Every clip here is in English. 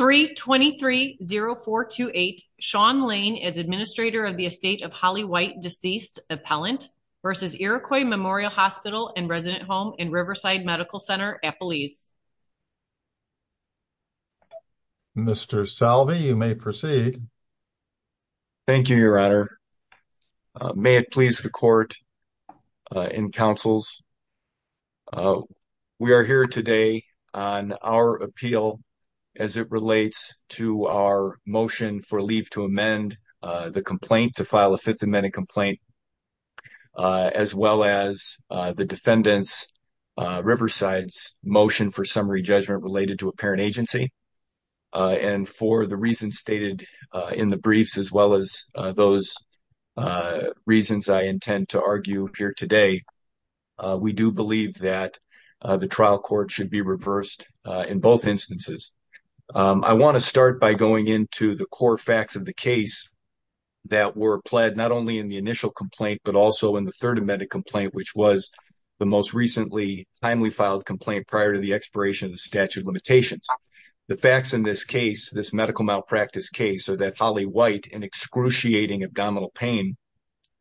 3230428 Shawn Lane as Administrator of the Estate of Holly White, Deceased Appellant v. Iroquois Memorial Hospital & Resident Home in Riverside Medical Center, Eppleese Mr. Salve, you may proceed. Thank you, Your Honor. May it please the Court and Councils, we are here today on our appeal as it relates to our motion for leave to amend the complaint to file a Fifth Amendment complaint as well as the Defendant's Riverside's motion for summary judgment related to a parent agency and for the reasons stated in the briefs as well as those reasons I intend to argue here today, we do believe that the trial court should be reversed in both instances. I want to start by going into the core facts of the case that were pled not only in the initial complaint but also in the Third Amendment complaint which was the most recently timely filed complaint prior to the expiration of the statute of limitations. The facts in this case, this medical malpractice case are that Holly White, in excruciating abdominal pain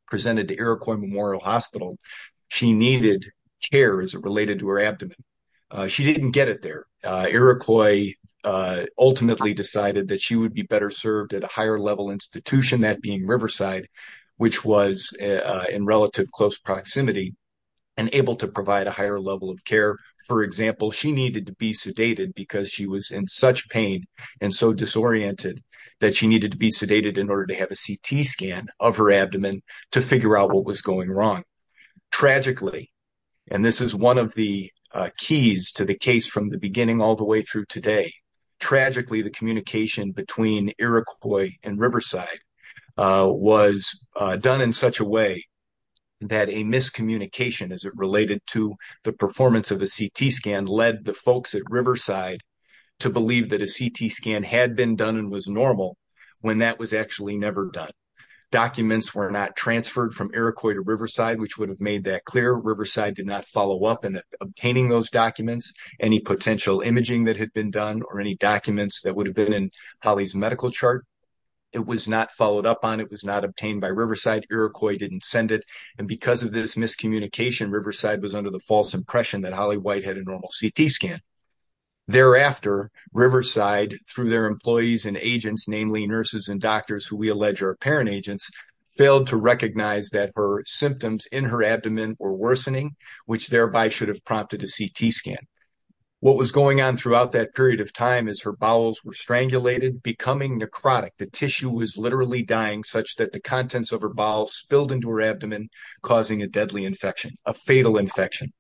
presented to Iroquois Memorial Hospital, she needed care as it related to her abdomen. She didn't get it there. Iroquois ultimately decided that she would be better served at a higher level institution, that being Riverside which was in relative close proximity and able to provide a higher level of care. For example, she needed to be sedated because she was in such pain and so disoriented that she needed to be sedated in order to have a CT scan of her abdomen to figure out what was going wrong. Tragically, and this is one of the keys to the case from the beginning all the way through today, tragically the communication between Iroquois and Riverside was done in such a way that a miscommunication as it related to the performance of a CT scan led the folks at Riverside to believe that a CT scan had been done and was normal when that was actually never done. Documents were not transferred from Iroquois to Riverside which would have made that clear. Riverside did not follow up in obtaining those documents. Any potential imaging that had been done or any documents that would have been in Holly's medical chart, it was not followed up on, it was not obtained by Riverside. Iroquois didn't send it and because of this miscommunication, Riverside was under the false impression that Holly White had a normal CT scan. Thereafter, Riverside through their employees and agents, namely nurses and doctors who we allege are parent agents, failed to recognize that her symptoms in her abdomen were worsening which thereby should have prompted a CT scan. What was going on throughout that period of time is her bowels were strangulated, becoming necrotic. The tissue was literally dying such that the contents of her bowel spilled into her abdomen causing a deadly infection, a fatal infection.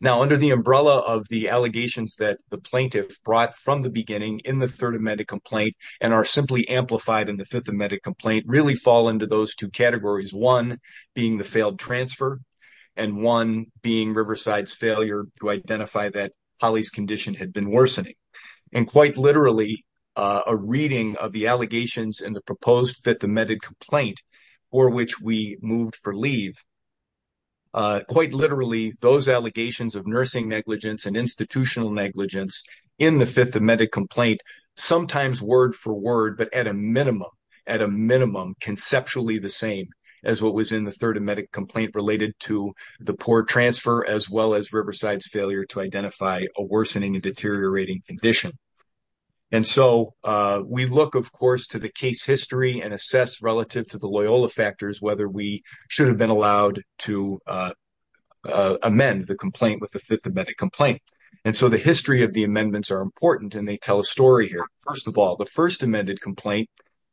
Now under the umbrella of the allegations that the plaintiff brought from the beginning in the third amended complaint and are simply amplified in the fifth amended complaint really fall into those two categories. One being the failed transfer and one being Riverside's failure to identify that Holly's condition had been worsening and quite literally a reading of the allegations in the proposed fifth amended complaint for which we moved for leave. Quite literally, those allegations of nursing negligence and institutional negligence in the fifth amended complaint sometimes word for word but at a minimum, at a minimum, conceptually the same as what was in the third amended complaint related to the poor transfer as well as Riverside's failure to identify a worsening and deteriorating condition. And so we look of course to the case history and assess relative to the Loyola factors whether we should have been allowed to amend the complaint with the fifth amended complaint. And so the amendments are important and they tell a story here. First of all, the first amended complaint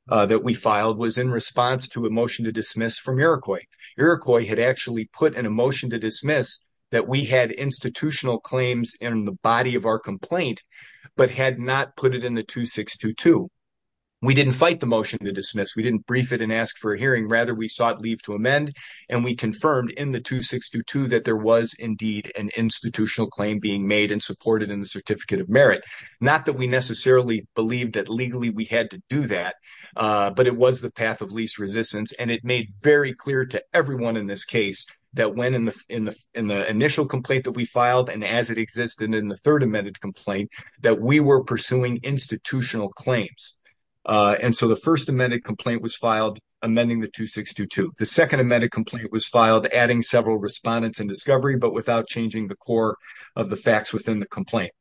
that we filed was in response to a motion to dismiss from Iroquois. Iroquois had actually put in a motion to dismiss that we had institutional claims in the body of our complaint but had not put it in the 2622. We didn't fight the motion to dismiss, we didn't brief it and ask for a hearing, rather we sought leave to amend and we confirmed in the 2622 that there was indeed an institutional claim being made and supported in the certificate of merit. Not that we necessarily believed that legally we had to do that but it was the path of least resistance and it made very clear to everyone in this case that when in the initial complaint that we filed and as it existed in the third amended complaint that we were pursuing institutional claims. And so the first amended complaint was filed amending the 2622. The second amended complaint was filed adding several respondents and discovery but without changing the core of the facts within the complaint.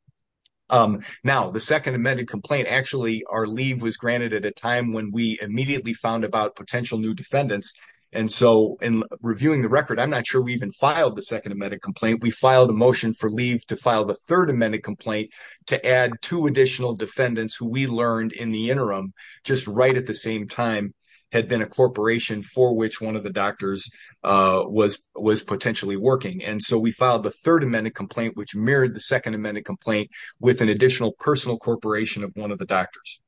Now the second amended complaint actually our leave was granted at a time when we immediately found about potential new defendants and so in reviewing the record I'm not sure we even filed the second amended complaint. We filed a motion for leave to file the third amended complaint to add two additional defendants who we learned in the interim just right at the same time had a corporation for which one of the doctors was was potentially working and so we filed the third amended complaint which mirrored the second amended complaint with an additional personal corporation of one of the doctors.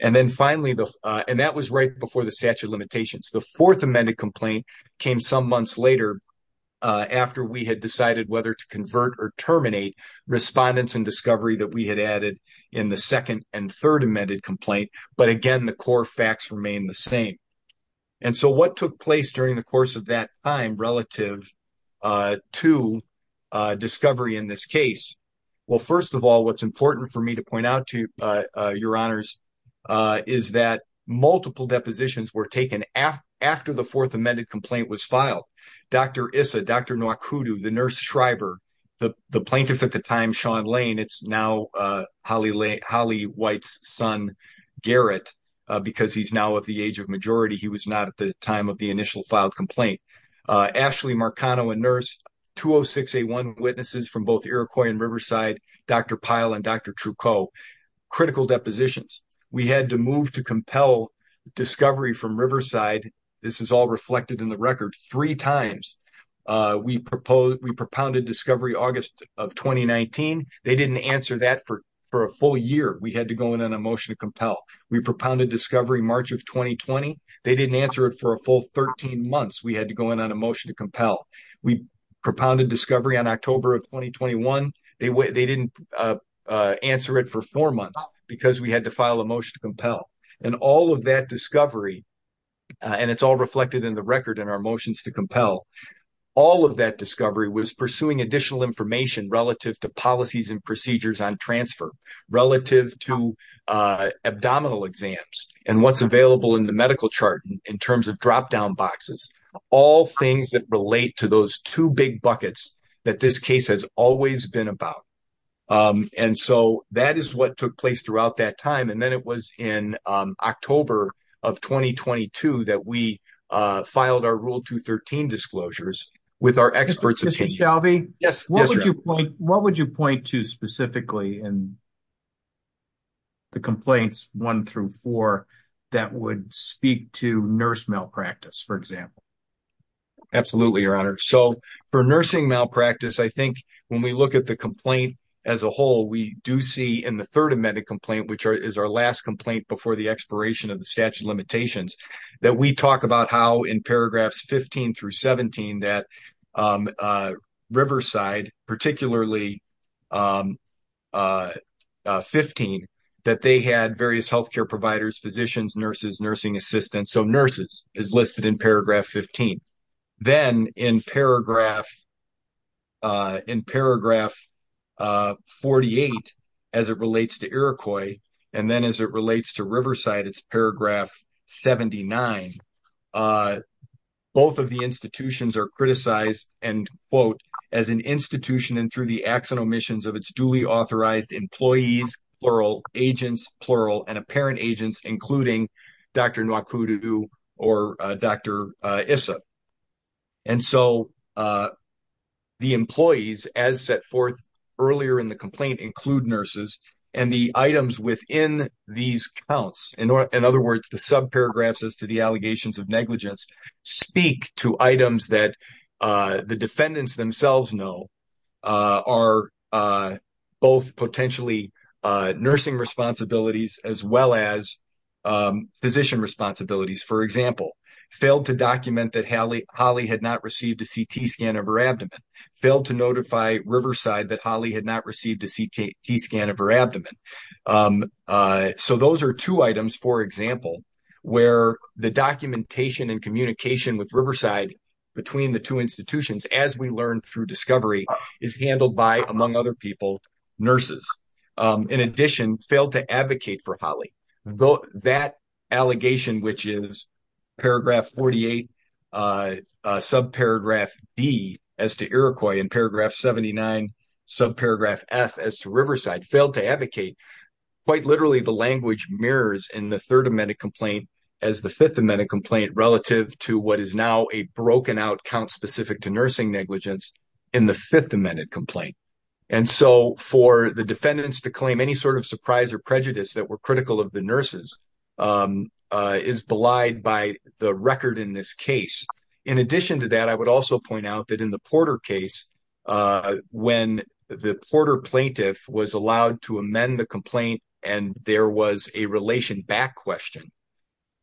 And then finally the and that was right before the statute limitations. The fourth amended complaint came some months later after we had decided whether to convert or terminate respondents and discovery that we had added in the second and third amended complaint. But again the core facts remain the same. And so what took place during the course of that time relative to discovery in this case. Well first of all what's important for me to point out to you your honors is that multiple depositions were taken after the fourth amended complaint was filed. Dr. Issa, Dr. Noakudu, the nurse Shriver, the the plaintiff at the time Sean Lane, it's now Holly White's son Garrett because he's now of the age of majority. He was not at the time of the initial filed complaint. Ashley Marcano, a nurse. 20681 witnesses from both Iroquois and Riverside. Dr. Pyle and Dr. Trucco. Critical depositions. We had to move to compel discovery from Riverside. This is all reflected in the record three times. We proposed we propounded discovery August of 2019. They didn't answer that for a full year. We had to go in on a motion to compel. We propounded discovery March of 2020. They didn't answer it for a full 13 months. We had to go in on a motion to compel. We propounded discovery on October of 2021. They didn't answer it for four months because we had to file a motion to compel. And all of that discovery, and it's all reflected in the record in our motions to compel, all of that discovery was pursuing additional information relative to policies and procedures on transfer, relative to abdominal exams, and what's available in the medical chart in terms of drop down boxes. All things that relate to those two big buckets that this case has always been about. And so that is what took place throughout that time. And then it was in October of 2022 that we filed our rule 213 disclosures with our experts. Mr. Stalvey, what would you point to specifically in the complaints one through four that would speak to nurse malpractice, for example? Absolutely, your honor. So for nursing malpractice, I think when we look at the complaint as a whole, we do see in the third amended complaint, which is our last complaint before the expiration of statute of limitations, that we talk about how in paragraphs 15 through 17 that Riverside, particularly 15, that they had various healthcare providers, physicians, nurses, nursing assistants. So nurses is listed in paragraph 15. Then in paragraph 48, as it relates to Iroquois, and then as it relates to Riverside, it's paragraph 79. Both of the institutions are criticized and quote, as an institution and through the acts and omissions of its duly authorized employees, plural, agents, plural, and apparent agents, including Dr. Nwakudu or Dr. Issa. And so the employees, as set forth earlier in the complaint, include nurses. And the items within these counts, in other words, the subparagraphs as to the allegations of negligence, speak to items that the defendants themselves know are both potentially nursing responsibilities as well as physician responsibilities. For example, failed to document that Holly had not received a CT scan of her abdomen. Failed to notify Riverside that Holly had not received a CT scan of her abdomen. So those are two items, for example, where the documentation and communication with Riverside between the two institutions, as we learned through discovery, is handled by, among other people, nurses. In addition, failed to advocate for Holly. That allegation, which is paragraph 48, subparagraph D as to Iroquois, and paragraph 79, subparagraph F as to Riverside, failed to advocate. Quite literally, the language mirrors in the Third Amendment complaint as the Fifth Amendment complaint relative to what is now a broken out count specific to nursing negligence in the Fifth Amendment complaint. And so for the defendants to claim any sort of surprise or prejudice that were critical of the nurses is belied by the record in this case. In addition to that, I would also point out that in the Porter case, when the Porter plaintiff was allowed to amend the complaint and there was a relation back question,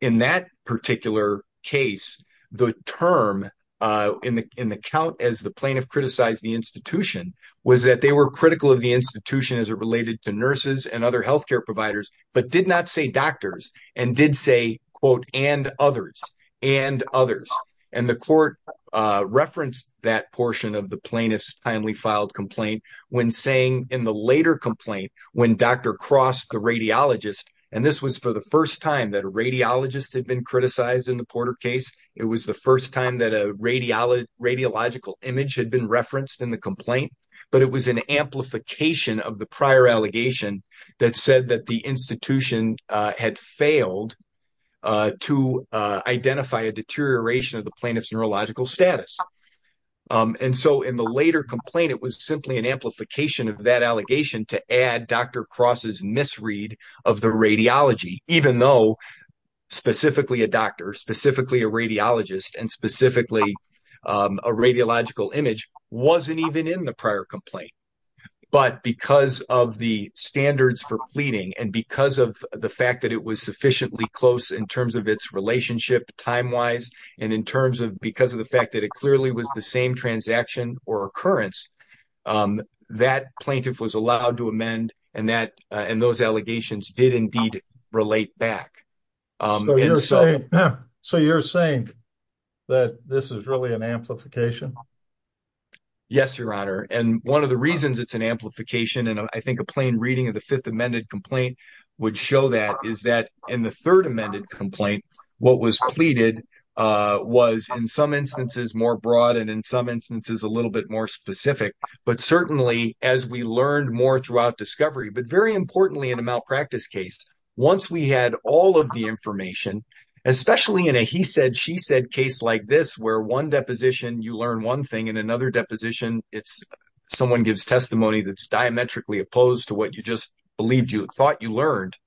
in that particular case, the term in the count as the plaintiff criticized the institution was that they were critical of the institution as it related to nurses and other health care providers, but did not say doctors, and did say, quote, and others, and others. And the court referenced that portion of the plaintiff's timely filed complaint when saying in the later complaint, when Dr. Cross, the radiologist, and this was for the first time that a radiologist had been criticized in the Porter case. It was the first time that a radiological image had been referenced in the complaint, but it was an amplification of the prior allegation that said that the institution had failed to identify a deterioration of the plaintiff's neurological status. And so in the later complaint, it was simply an amplification of that allegation to add Dr. Cross's misread of the radiology, even though specifically a doctor, specifically a radiologist, and specifically a radiological image wasn't even in the prior complaint. But because of the standards for pleading, and because of the fact that it was sufficiently close in terms of its relationship time-wise, and in terms of because of the fact that it clearly was the same transaction or occurrence, that plaintiff was allowed to amend, and those allegations did indeed relate back. So you're saying that this is really an amplification? Yes, Your Honor. And one of the reasons it's an amplification, and I think a plain reading of the fifth amended complaint would show that, is that in the third amended complaint, what was pleaded was in some instances more broad, and in some instances a little bit more specific. But certainly as we learned more throughout discovery, but very importantly in a malpractice case, once we had all of the information, especially in a he said, she said case like this, where one deposition, you learn one thing, and another deposition, it's someone gives testimony that's diametrically opposed to what you just believed you thought you learned.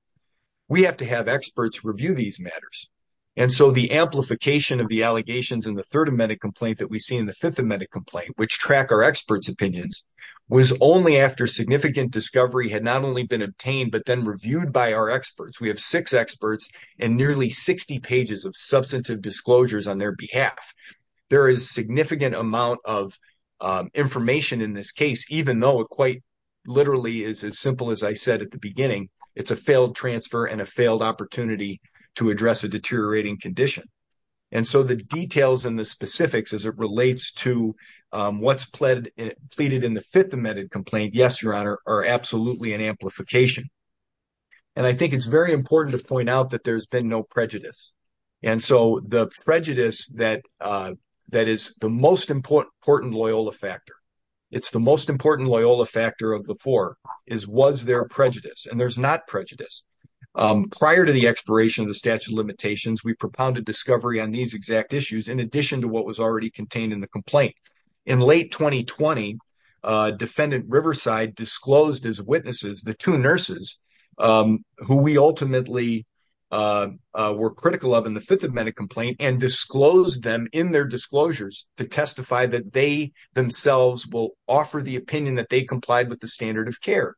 We have to have experts review these matters. And so the amplification of the allegations in the third amended complaint that we see in the fifth amended complaint, which track our experts' opinions, was only after significant discovery had not only been obtained, but then reviewed by our experts. We have six experts and nearly 60 pages of substantive disclosures on their behalf. There is significant amount of information in this case, even though it quite literally is as simple as I said at the to address a deteriorating condition. And so the details and the specifics as it relates to what's pleaded in the fifth amended complaint, yes, your honor, are absolutely an amplification. And I think it's very important to point out that there's been no prejudice. And so the prejudice that is the most important Loyola factor, it's the most important Loyola factor of the four, is was there prejudice? And there's not prejudice. Prior to the expiration of the statute of limitations, we propounded discovery on these exact issues in addition to what was already contained in the complaint. In late 2020, defendant Riverside disclosed as witnesses the two nurses who we ultimately were critical of in the fifth amended complaint and disclosed them in their disclosures to testify that they themselves will offer the opinion that complied with the standard of care.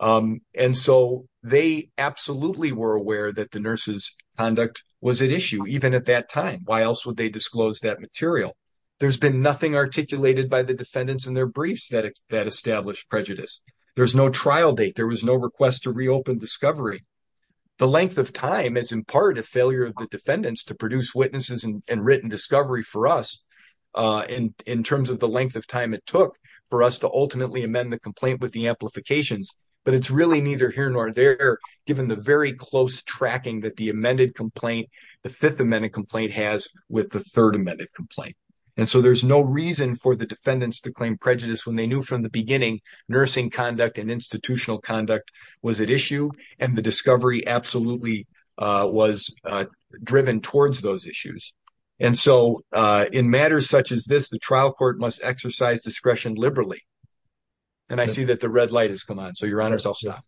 And so they absolutely were aware that the nurses conduct was at issue even at that time. Why else would they disclose that material? There's been nothing articulated by the defendants in their briefs that established prejudice. There's no trial date. There was no request to reopen discovery. The length of time is in part a failure of the defendants to produce witnesses and written discovery for us in terms of the amendment complaint with the amplifications. But it's really neither here nor there, given the very close tracking that the amended complaint, the fifth amended complaint has with the third amended complaint. And so there's no reason for the defendants to claim prejudice when they knew from the beginning, nursing conduct and institutional conduct was at issue and the discovery absolutely was driven towards those issues. And so in matters such as this, the trial court must exercise discretion liberally. And I see that the red light has come on. So your honors, I'll stop.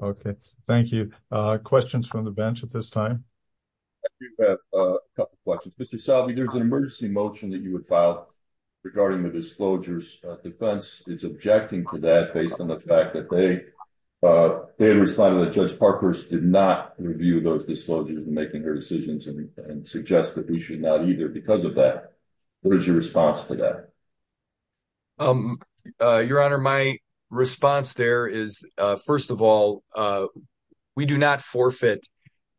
Okay. Thank you. Uh, questions from the bench at this time. I do have a couple of questions. Mr. Salvi, there's an emergency motion that you would file regarding the disclosures. Uh, defense is objecting to that based on the fact that they, uh, they had responded that judge Parker's did not review those disclosures and making their decisions and suggest that we should not either because of that. What is your response to that? Um, uh, your honor, my response there is, uh, first of all, uh, we do not forfeit,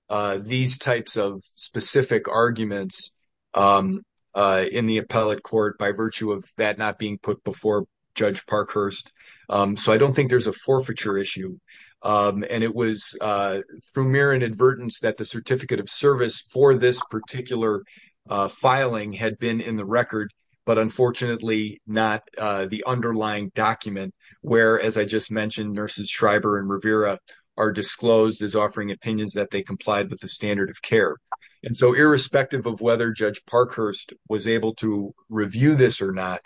uh, these types of specific arguments, um, uh, in the appellate court by virtue of that, not being put before judge Parkhurst. Um, so I don't think there's a forfeiture issue. Um, and it was, uh, through mirror and advertence that the certificate of service for this particular, uh, filing had been in the record, but unfortunately not, uh, the underlying document where, as I just mentioned, nurses Schreiber and Rivera are disclosed as offering opinions that they complied with the standard of care. And so irrespective of whether judge Parkhurst was able to review this or not,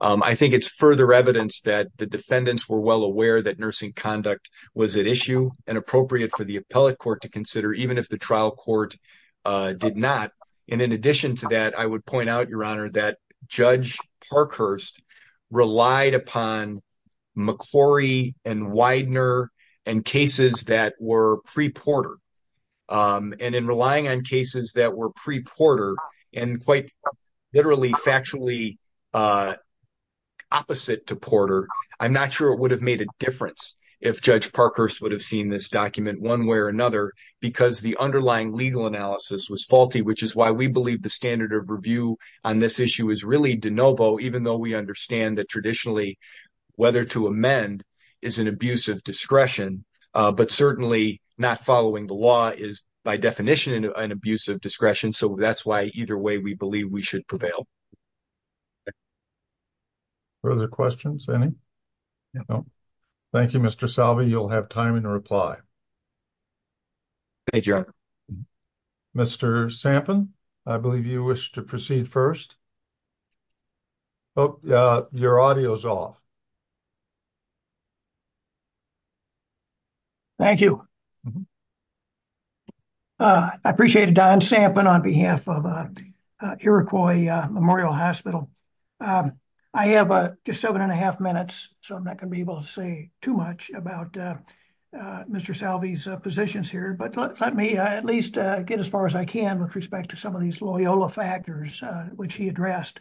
um, I think it's further evidence that the defendants were well aware that was at issue and appropriate for the appellate court to consider even if the trial court, uh, did not. And in addition to that, I would point out your honor that judge Parkhurst relied upon McClory and Widener and cases that were pre Porter. Um, and in relying on cases that were pre Porter and quite literally factually, uh, opposite to Porter, I'm not sure it would have made a if judge Parkhurst would have seen this document one way or another because the underlying legal analysis was faulty, which is why we believe the standard of review on this issue is really de novo, even though we understand that traditionally whether to amend is an abuse of discretion, uh, but certainly not following the law is by definition an abuse of discretion. So that's why either way we believe we should prevail. Okay. Further questions? Any? No. Thank you, Mr Salvi. You'll have time in a reply. Thank you. Mr Sampson, I believe you wish to proceed first. Oh, your audio is off. Thank you. Uh, I appreciate it. Don Sampen on behalf of Iroquois Memorial Hospital. Um, I have just 7.5 minutes, so I'm not gonna be able to say too much about Mr Salvi's positions here. But let me at least get as far as I can with respect to some of these Loyola factors, which he addressed.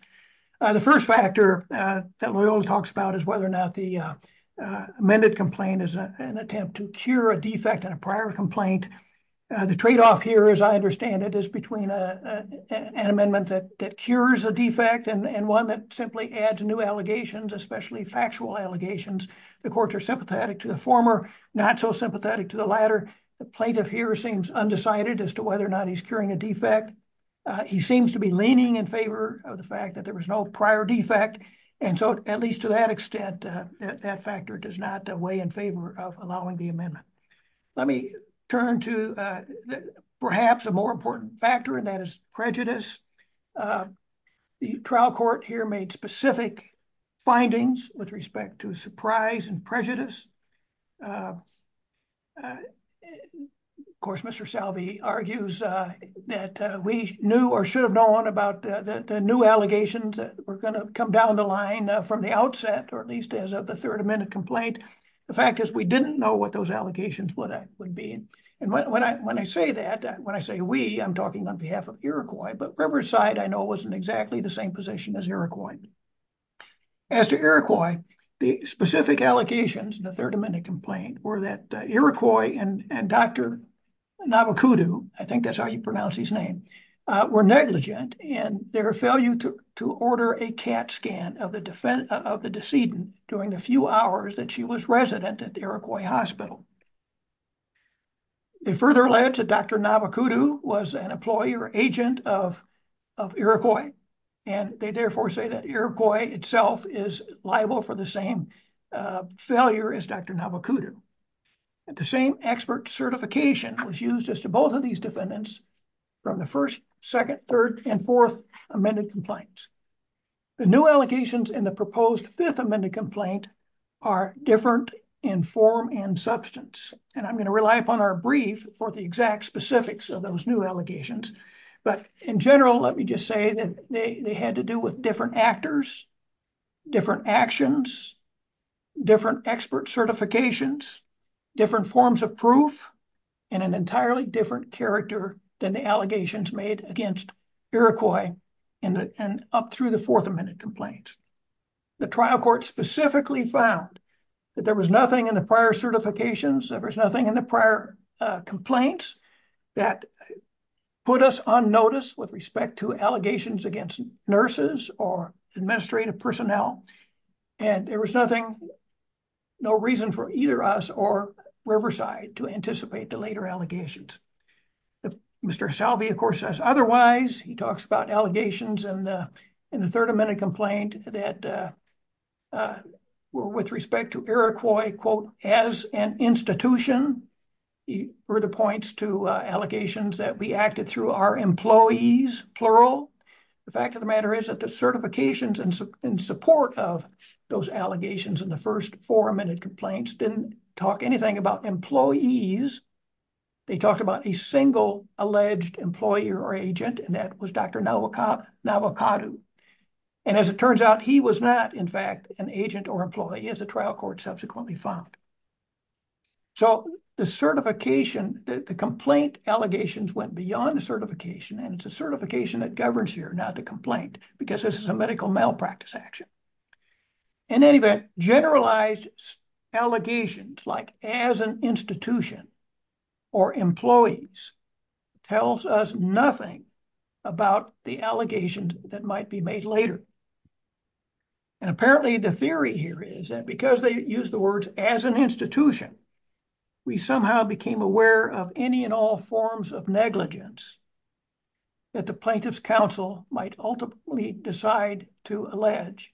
The first factor that Loyola talks about is whether or not the amended complaint is an attempt to cure a defect in a prior complaint. The tradeoff here, as I understand it, is between an amendment that cures a defect and one that simply adds new allegations, especially factual allegations. The courts are sympathetic to the former, not so sympathetic to the latter. The plaintiff here seems undecided as to whether or not he's a defect. He seems to be leaning in favor of the fact that there was no prior defect. And so at least to that extent, that factor does not weigh in favor of allowing the amendment. Let me turn to perhaps a more important factor, and that is prejudice. The trial court here made specific findings with respect to surprise and prejudice. Of course, Mr Salvi argues that we knew or should have known about the new allegations that were going to come down the line from the outset, or at least as of the third amendment complaint. The fact is we didn't know what those allegations would be. And when I say that, when I say we, I'm talking on behalf of Iroquois, but Riverside, I know, was in exactly the same as Iroquois. As to Iroquois, the specific allocations in the third amendment complaint were that Iroquois and Dr. Navakudu, I think that's how you pronounce his name, were negligent and their failure to order a CAT scan of the defendant, of the decedent during the few hours that she was resident at the Iroquois hospital. It further led to Dr. Navakudu was an employee or agent of Iroquois, and they therefore say that Iroquois itself is liable for the same failure as Dr. Navakudu. The same expert certification was used as to both of these defendants from the first, second, third, and fourth amended complaints. The new allocations in the proposed fifth amended complaint are different in form and substance, and I'm going to rely upon our brief for the exact specifics of those new allegations, but in general, let me just say that they had to do with different actors, different actions, different expert certifications, different forms of proof, and an entirely different character than the allegations made against Iroquois and up through the fourth amended complaint. The trial court specifically found that there was nothing in the prior certifications, there was nothing in the prior complaints that put us on notice with respect to allegations against nurses or administrative personnel, and there was nothing, no reason for either us or Riverside to anticipate the later allegations. Mr. Salvi, of course, says otherwise. He talks about allegations in the third amended complaint that were with respect to Iroquois, quote, as an institution. He further points to allegations that we acted through our employees, plural. The fact of the matter is that the certifications in support of those allegations in the first four amended complaints didn't talk anything about employees. They talked about a alleged employee or agent, and that was Dr. Nawakatu, and as it turns out, he was not, in fact, an agent or employee, as the trial court subsequently found. So the certification, the complaint allegations went beyond the certification, and it's a certification that governs here, not the complaint, because this is a medical malpractice action. In any event, generalized allegations like as an institution or employees tells us nothing about the allegations that might be made later, and apparently the theory here is that because they use the words as an institution, we somehow became aware of any and all forms of negligence that the plaintiff's counsel might ultimately decide to allege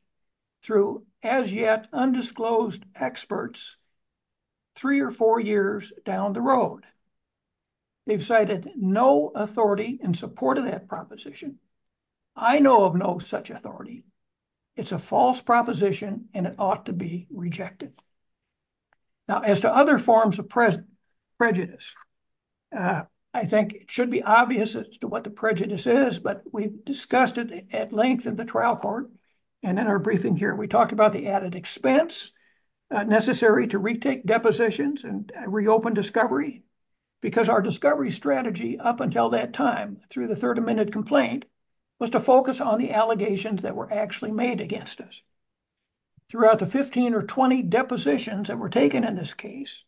through as yet undisclosed experts three or four years down the road. They've cited no authority in support of that proposition. I know of no such authority. It's a false proposition, and it ought to be rejected. Now, as to other forms of prejudice, I think it should be obvious as to what the prejudice is, but we've discussed it at length in the trial court, and in our briefing here, we talked about the added expense necessary to retake depositions and reopen discovery, because our discovery strategy up until that time through the third amended complaint was to focus on the allegations that were actually made against us. Throughout the 15 or 20 depositions that were taken in this case,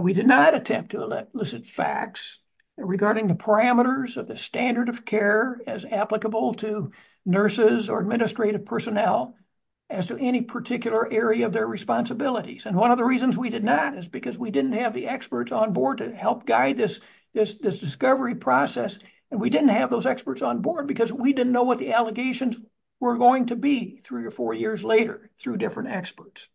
we did not attempt to elicit facts regarding the parameters of the standard of care as applicable to nurses or administrative personnel as to any particular area of their responsibilities, and one of the reasons we did not is because we didn't have the experts on board to help guide this discovery process, and we didn't have those experts on board because we didn't know what the allegations were going to be three or four years later through different experts.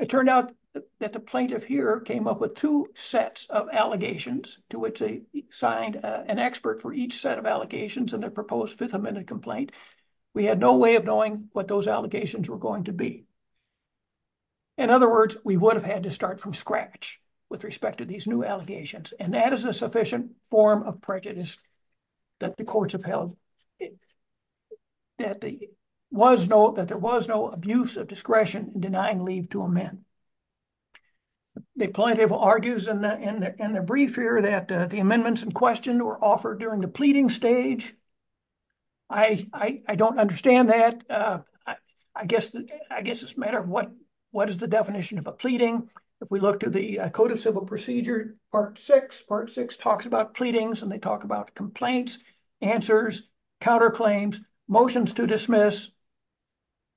It turned out that the plaintiff here came up with two sets of allegations to which they signed an expert for each set of allegations in the proposed fifth amended complaint. We had no way of knowing what those allegations were going to be. In other words, we would have had to start from scratch with respect to these new allegations, and that is a sufficient form of prejudice that the courts have held that there was no abuse of discretion in denying leave to a man. The plaintiff argues in the brief here that the amendments in question were offered during the pleading stage. I don't understand that. I guess it's a matter of what is the definition of a pleading. If we look to the Code of Civil Procedure Part 6, Part 6 talks about pleadings and they talk about complaints, answers, counterclaims, motions to dismiss.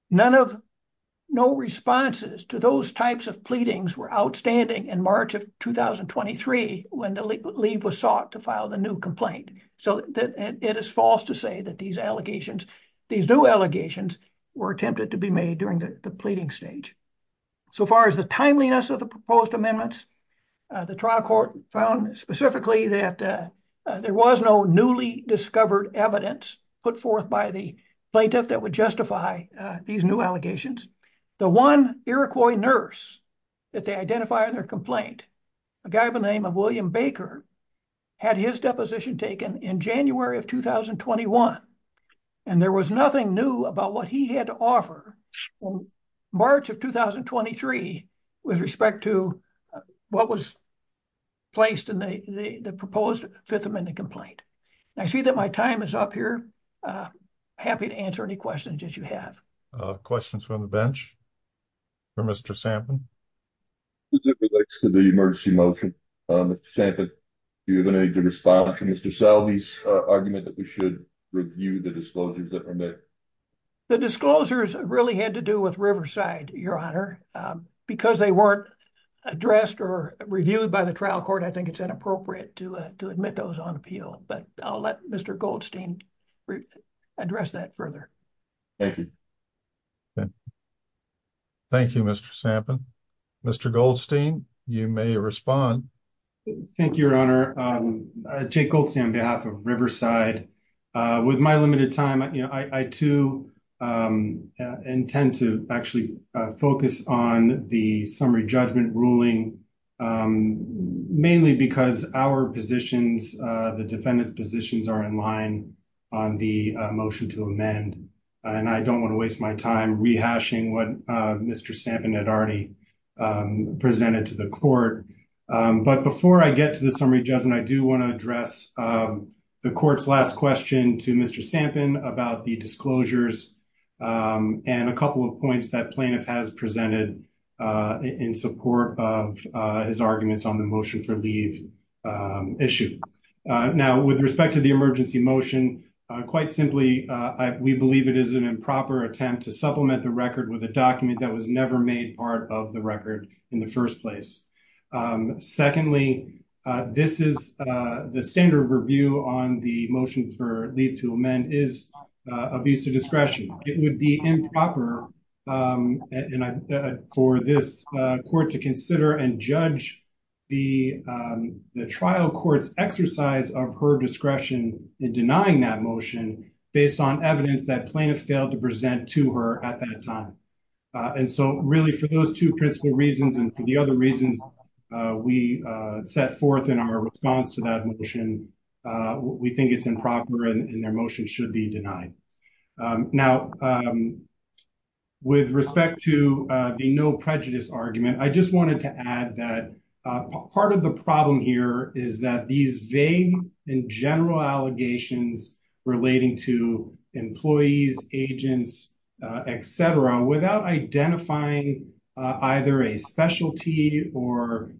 None of, no responses to those types of pleadings were outstanding in March of 2023 when the leave was sought to file the new complaint. So it is false to say that these allegations, these new allegations were attempted to be made during the pleading stage. So far as the proposed amendments, the trial court found specifically that there was no newly discovered evidence put forth by the plaintiff that would justify these new allegations. The one Iroquois nurse that they identified in their complaint, a guy by the name of William Baker, had his deposition taken in January of 2021, and there was nothing new about what he had to offer. In March of 2023, with respect to what was placed in the proposed Fifth Amendment complaint. I see that my time is up here. I'm happy to answer any questions that you have. Questions from the bench for Mr. Sampson? As it relates to the emergency motion, Mr. Sampson, do you have any response to Mr. Salve's argument that we should review the disclosures that were made? The disclosures really had to do with Riverside, Your Honor, because they weren't addressed or reviewed by the trial court. I think it's inappropriate to admit those on appeal, but I'll let Mr. Goldstein address that further. Thank you, Mr. Sampson. Mr. Goldstein, you may respond. Thank you, Your Honor. Jake Goldstein on behalf of Riverside. With my limited time, I too intend to actually focus on the summary judgment ruling, mainly because our positions, the defendant's positions are in line on the motion to amend. I don't want to waste my time rehashing what Mr. Sampson had already presented to the court. But before I get to the summary judgment, I do want to address the court's last question to Mr. Sampson about the disclosures and a couple of points that plaintiff has presented in support of his arguments on the motion for leave issue. Now, with respect to the emergency motion, quite simply, we believe it is an improper attempt to supplement the record with a document that was never made part of the record in the first place. Secondly, this is the standard review on the motion for leave to amend is abuse of discretion. It would be improper for this court to consider and judge the trial court's exercise of her discretion in denying that motion based on evidence that plaintiff failed to present to her at that time. And so really for those two principal reasons and for the other reasons we set forth in our response to that motion, we think it's improper and their motion should be denied. Now, with respect to the no prejudice argument, I just wanted to add that part of the is that these vague and general allegations relating to employees, agents, et cetera, without identifying either a specialty or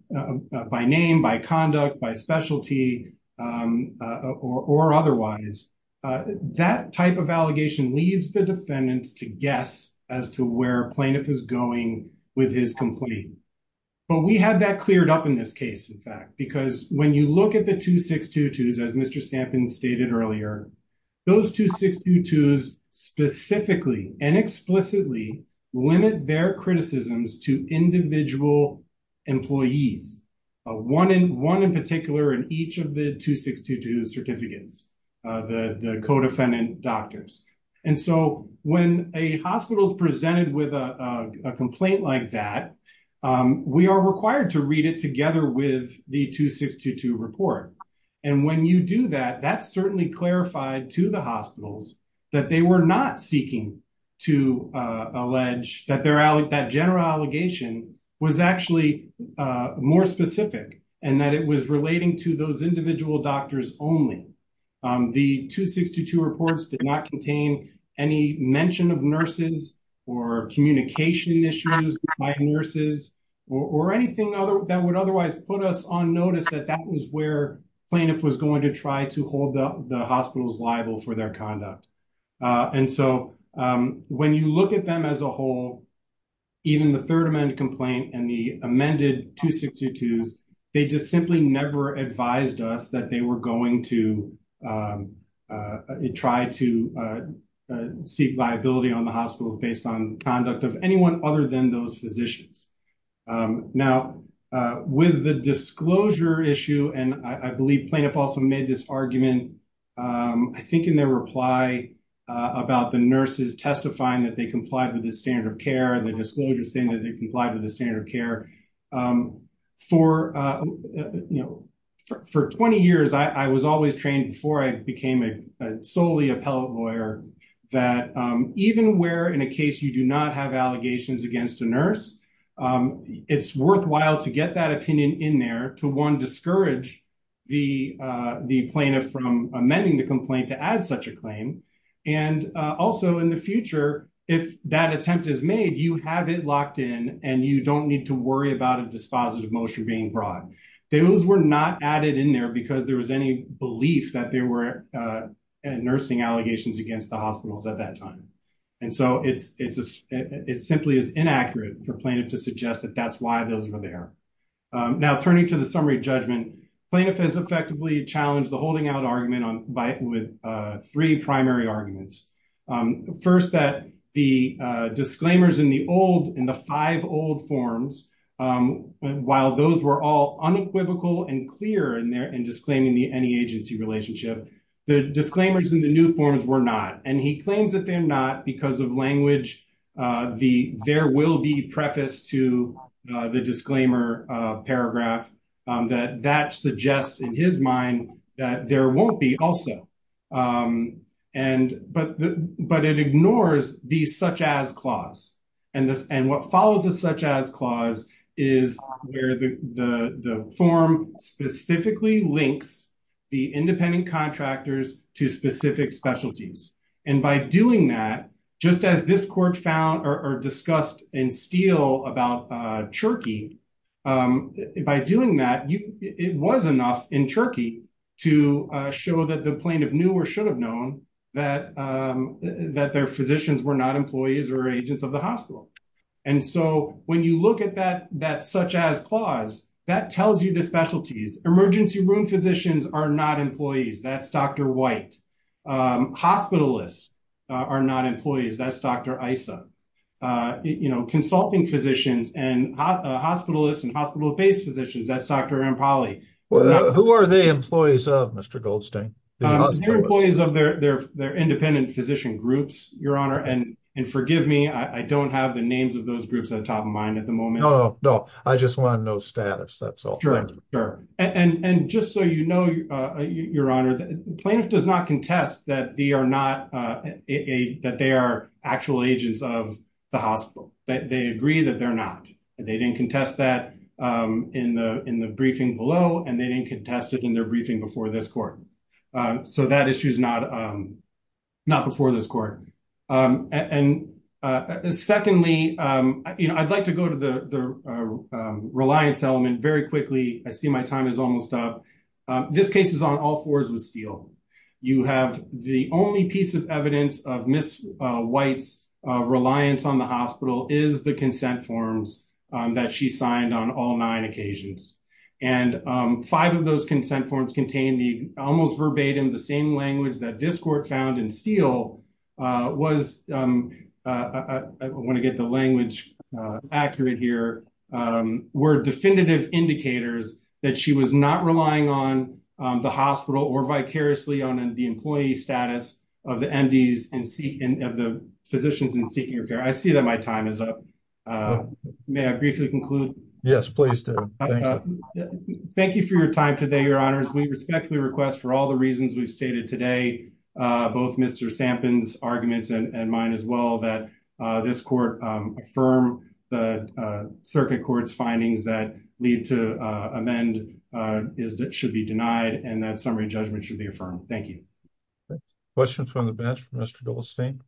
by name, by conduct, by specialty or otherwise, that type of allegation leaves the defendants to guess as to where plaintiff is going with his complaint. But we have that cleared up in this case, in fact, because when you look at the 2622s, as Mr. Stampin stated earlier, those 2622s specifically and explicitly limit their criticisms to individual employees, one in particular in each of the 2622 certificates, the co-defendant doctors. And so when a hospital is presented with a complaint like that, we are required to read it together with the 2622 report. And when you do that, that's certainly clarified to the hospitals that they were not seeking to allege that general allegation was actually more specific and that it was relating to those individual doctors only. The 2622 reports did not contain any mention of nurses or communication issues by nurses or anything that would otherwise put us on notice that that was where plaintiff was going to try to hold up the hospitals liable for their conduct. And so when you look at them as a whole, even the third amended complaint and the amended 2622s, they just simply never advised us that they were going to try to seek liability on the hospitals based on conduct of anyone other than those physicians. Now, with the disclosure issue, and I believe plaintiff also made this argument, I think in their reply about the nurses testifying that they complied with the standard of care and the disclosure saying that they complied with the standard of care. For 20 years, I was always trained before I became a solely appellate lawyer, that even where in a case you do not have allegations against a nurse, it's worthwhile to get that opinion in there to one, discourage the plaintiff from amending the complaint to add such a claim. And also in the future, if that attempt is made, you have it locked in and you don't need to worry about a dispositive motion being brought. Those were not added in there because there was any belief that there were nursing allegations against the hospitals at that time. And so it simply is inaccurate for plaintiff to suggest that that's why those were there. Now, turning to the summary judgment, plaintiff has effectively challenged the holding out argument with three primary arguments. First, that the disclaimers in the old, in the five old forms, while those were all unequivocal and clear in disclaiming the any agency relationship, the disclaimers in the new forms were not. And he claims that they're not because of language, the there will be preface to the disclaimer paragraph, that that suggests in his mind that there won't be also. But it ignores the such as clause. And what follows the such as clause is where the form specifically links the independent contractors to specific specialties. And by doing that, just as this found or discussed in Steele about Turkey, by doing that, it was enough in Turkey to show that the plaintiff knew or should have known that that their physicians were not employees or agents of the hospital. And so when you look at that, that such as clause that tells you the specialties, emergency room physicians are not employees. That's Dr. White. Hospitalists are not employees. That's Dr. Issa, you know, consulting physicians and hospitalists and hospital based physicians. That's Dr. Impali. Who are they? Employees of Mr. Goldstein, employees of their their independent physician groups, your honor. And forgive me, I don't have the names of those groups on top of mine at the moment. No, no. I just want to know status. That's all. And just so you know, your honor, the plaintiff does not contest that they are not that they are actual agents of the hospital, that they agree that they're not. They didn't contest that in the in the briefing below, and they didn't contest it in their briefing before this court. So that issue is not not before this court. And secondly, you know, I'd like to go to the reliance element very quickly. I see my time is almost up. This case is on all fours with Steele. You have the only piece of evidence of Miss White's reliance on the hospital is the consent forms that she signed on all nine occasions. And five of those consent forms contain the almost verbatim the same language that this court found in Steele was I want to get the language accurate here were definitive indicators that she was not relying on the hospital or vicariously on the employee status of the MDs and see of the physicians and senior care. I see that my time is up. May I briefly conclude? Yes, please do. Thank you for your time today. Your honors, we respectfully request for all the reasons we've stated today, both Mr. Sampson's arguments and mine as well, that this court firm, the circuit court's findings that lead to amend is that should be denied, and that summary judgment should be affirmed. Thank you. Questions from the bench, Mr. Goldstein.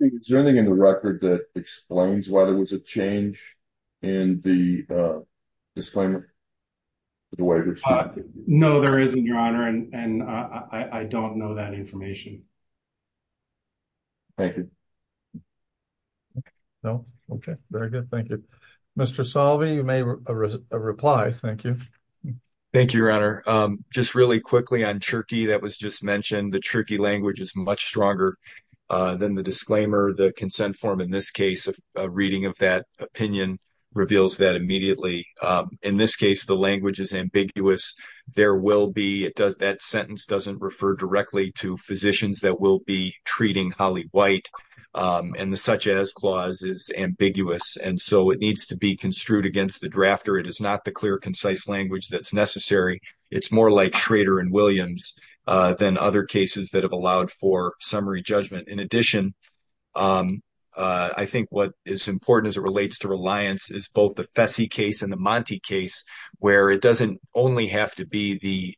Is there anything in the record that explains why there was a change in the disclaimer? No, there isn't, Your Honor. And I don't know that information. Thank you. No. Okay. Very good. Thank you, Mr. Salvi. You made a reply. Thank you. Thank you, Your Honor. Just really quickly on Turkey. That was just mentioned. The Turkey language is much stronger than the disclaimer. The consent form in this case of reading of that opinion reveals that immediately. In this case, the language is ambiguous. There will be it does. That sentence doesn't refer directly to physicians that will be treating Holly White. And the such as clause is ambiguous. And so it needs to be construed against the drafter. It is not the clear, concise language that's necessary. It's more like Schrader and Williams than other cases that have allowed for summary judgment. In addition, I think what is important as it relates to reliance is both the Fessy case and the Monty case where it doesn't only have to be the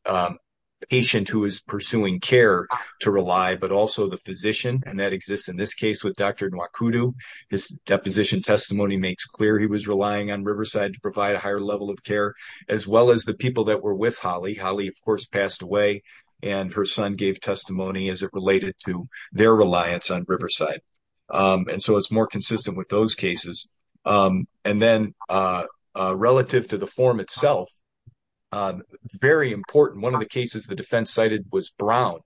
patient who is pursuing care to rely, but also the physician. And that exists in this case with Dr. Nwakudu. His deposition testimony makes clear he was relying on Riverside to provide a higher level of care, as well as the people that were with Holly. Holly, of course, passed away. And her son gave testimony as it related to their reliance on Riverside. And so it's more consistent with those cases. And then relative to the form itself, very important. One of the cases the defense cited was Brown.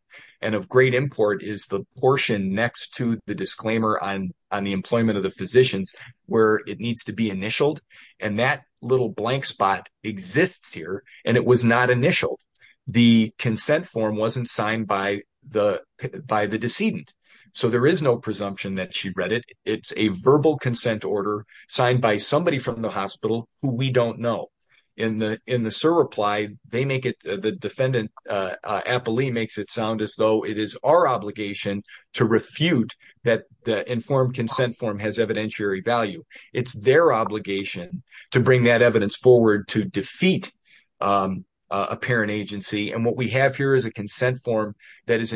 And of great import is the portion next to the disclaimer on the employment of the physicians where it needs to be initialed. And that little blank spot exists here. And it was not initialed. The consent form wasn't signed by the decedent. So there is no presumption that she read it. It's a verbal consent order signed by somebody from the hospital who we don't know. In the SIR reply, the defendant, Appali, makes it sound as though it is our obligation to refute that the informed consent form has evidentiary value. It's their obligation to bring that evidence forward to defeat a parent agency. And what we have here is a consent form that is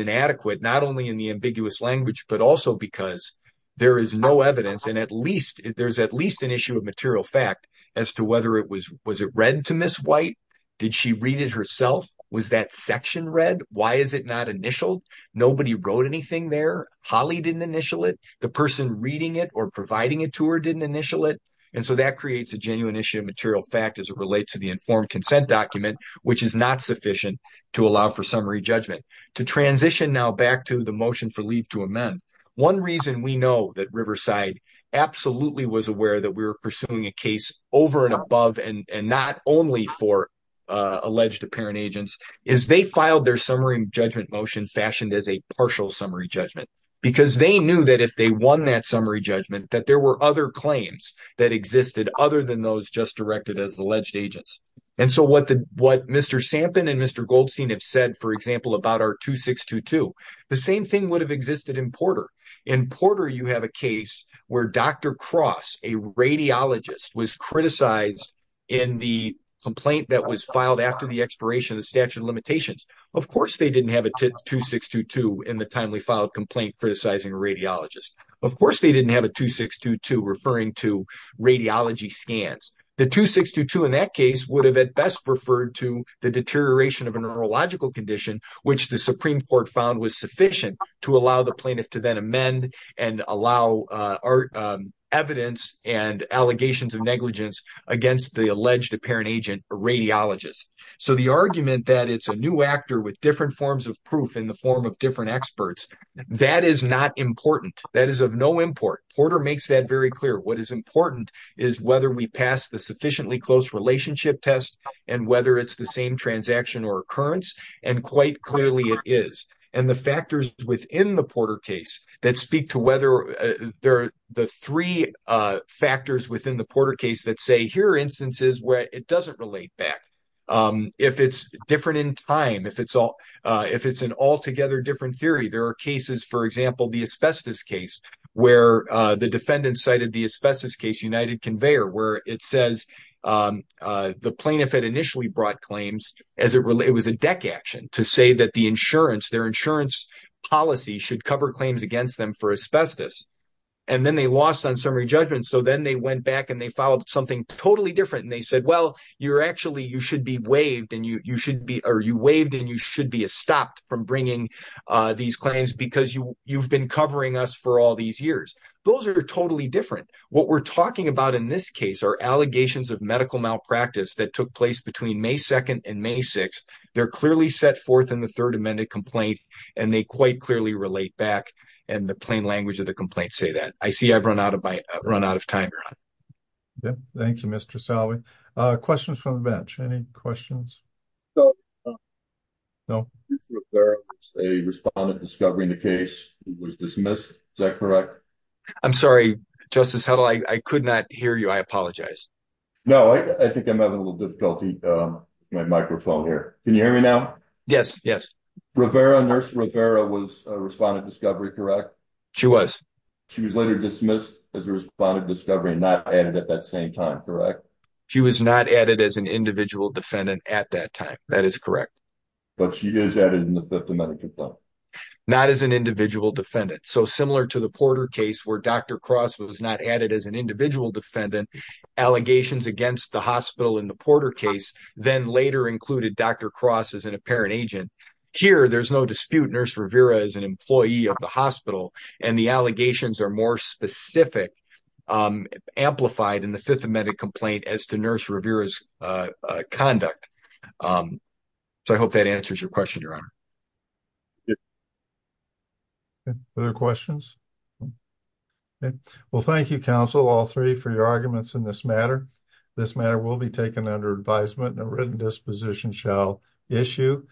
there is no evidence. And at least there's at least an issue of material fact as to whether it was was it read to Ms. White? Did she read it herself? Was that section read? Why is it not initialed? Nobody wrote anything there. Holly didn't initial it. The person reading it or providing it to her didn't initial it. And so that creates a genuine issue of material fact as it relates to the informed consent document, which is not sufficient to allow for summary judgment. To transition now back to the motion for leave to amend, one reason we know that Riverside absolutely was aware that we were pursuing a case over and above and not only for alleged apparent agents is they filed their summary judgment motion fashioned as a partial summary judgment because they knew that if they won that summary judgment, that there were other claims that existed other than those just directed as alleged agents. And so what Mr. Sampin and Mr. Sampin did is they filed a case in which they didn't have a 2622. Of course, they didn't have a 2622 in the timely filed complaint criticizing a radiologist. Of course, they didn't have a 2622 referring to radiology scans. The 2622 in that case would have at best referred to the deterioration of a neurological condition, which the Supreme Court found was sufficient to allow the plaintiff to then amend and allow our evidence and allegations of negligence against the alleged apparent agent radiologist. So the argument that it's a new actor with different forms of proof in the form of different experts, that is not important. That is of no import. Porter makes that very clear. What is important is whether we pass the sufficiently close relationship test and whether it's the same transaction or occurrence, and quite clearly it is. And the factors within the Porter case that speak to whether there are the three factors within the Porter case that say here are instances where it doesn't relate back. If it's different in time, if it's an altogether different theory, there are cases, for example, the asbestos case where the defendant cited the asbestos case, United Conveyor, where it says the plaintiff had initially brought claims as it was a deck action to say that the insurance, their insurance policy should cover claims against them for asbestos. And then they lost on summary judgment. So then they went back and they filed something totally different. And they said, well, you're actually, you should be waived and you should be, or you waived and you should be stopped from bringing these claims because you've been covering us for all these years. Those are totally different. What we're talking about in this case are allegations of medical malpractice that took place between May 2nd and May 6th. They're clearly set forth in the third amended complaint and they quite clearly relate back. And the plain language of the complaint say that I see I've run out of my run out of time. Yep. Thank you, Mr. Salvey. Questions from the bench. Any questions? No. No. A respondent discovery in the case was dismissed. Is that correct? I'm sorry, justice. How do I, I could not hear you. I apologize. No, I think I'm having a little difficulty. Um, my microphone here. Can you hear me now? Yes. Yes. Rivera nurse Rivera was a respondent discovery, correct? She was, she was later dismissed as a respondent discovery and not added at that same time. Correct. She was not added as an individual defendant at that time. That is correct. But she is added in the fifth amendment complaint, not as an individual defendant. So similar to the Porter case where Dr. Cross was not added as an individual defendant allegations against the hospital in the Porter case, then later included Dr. Cross as an apparent agent. Here, there's no dispute. Nurse Rivera is an employee of the hospital and the allegations are more specific, um, amplified in the fifth amendment complaint as to nurse Rivera's, uh, uh, conduct. Um, so I hope that answers your question, your honor. Other questions? Well, thank you counsel, all three for your arguments in this matter. This matter will be taken under advisement and a written disposition shall issue.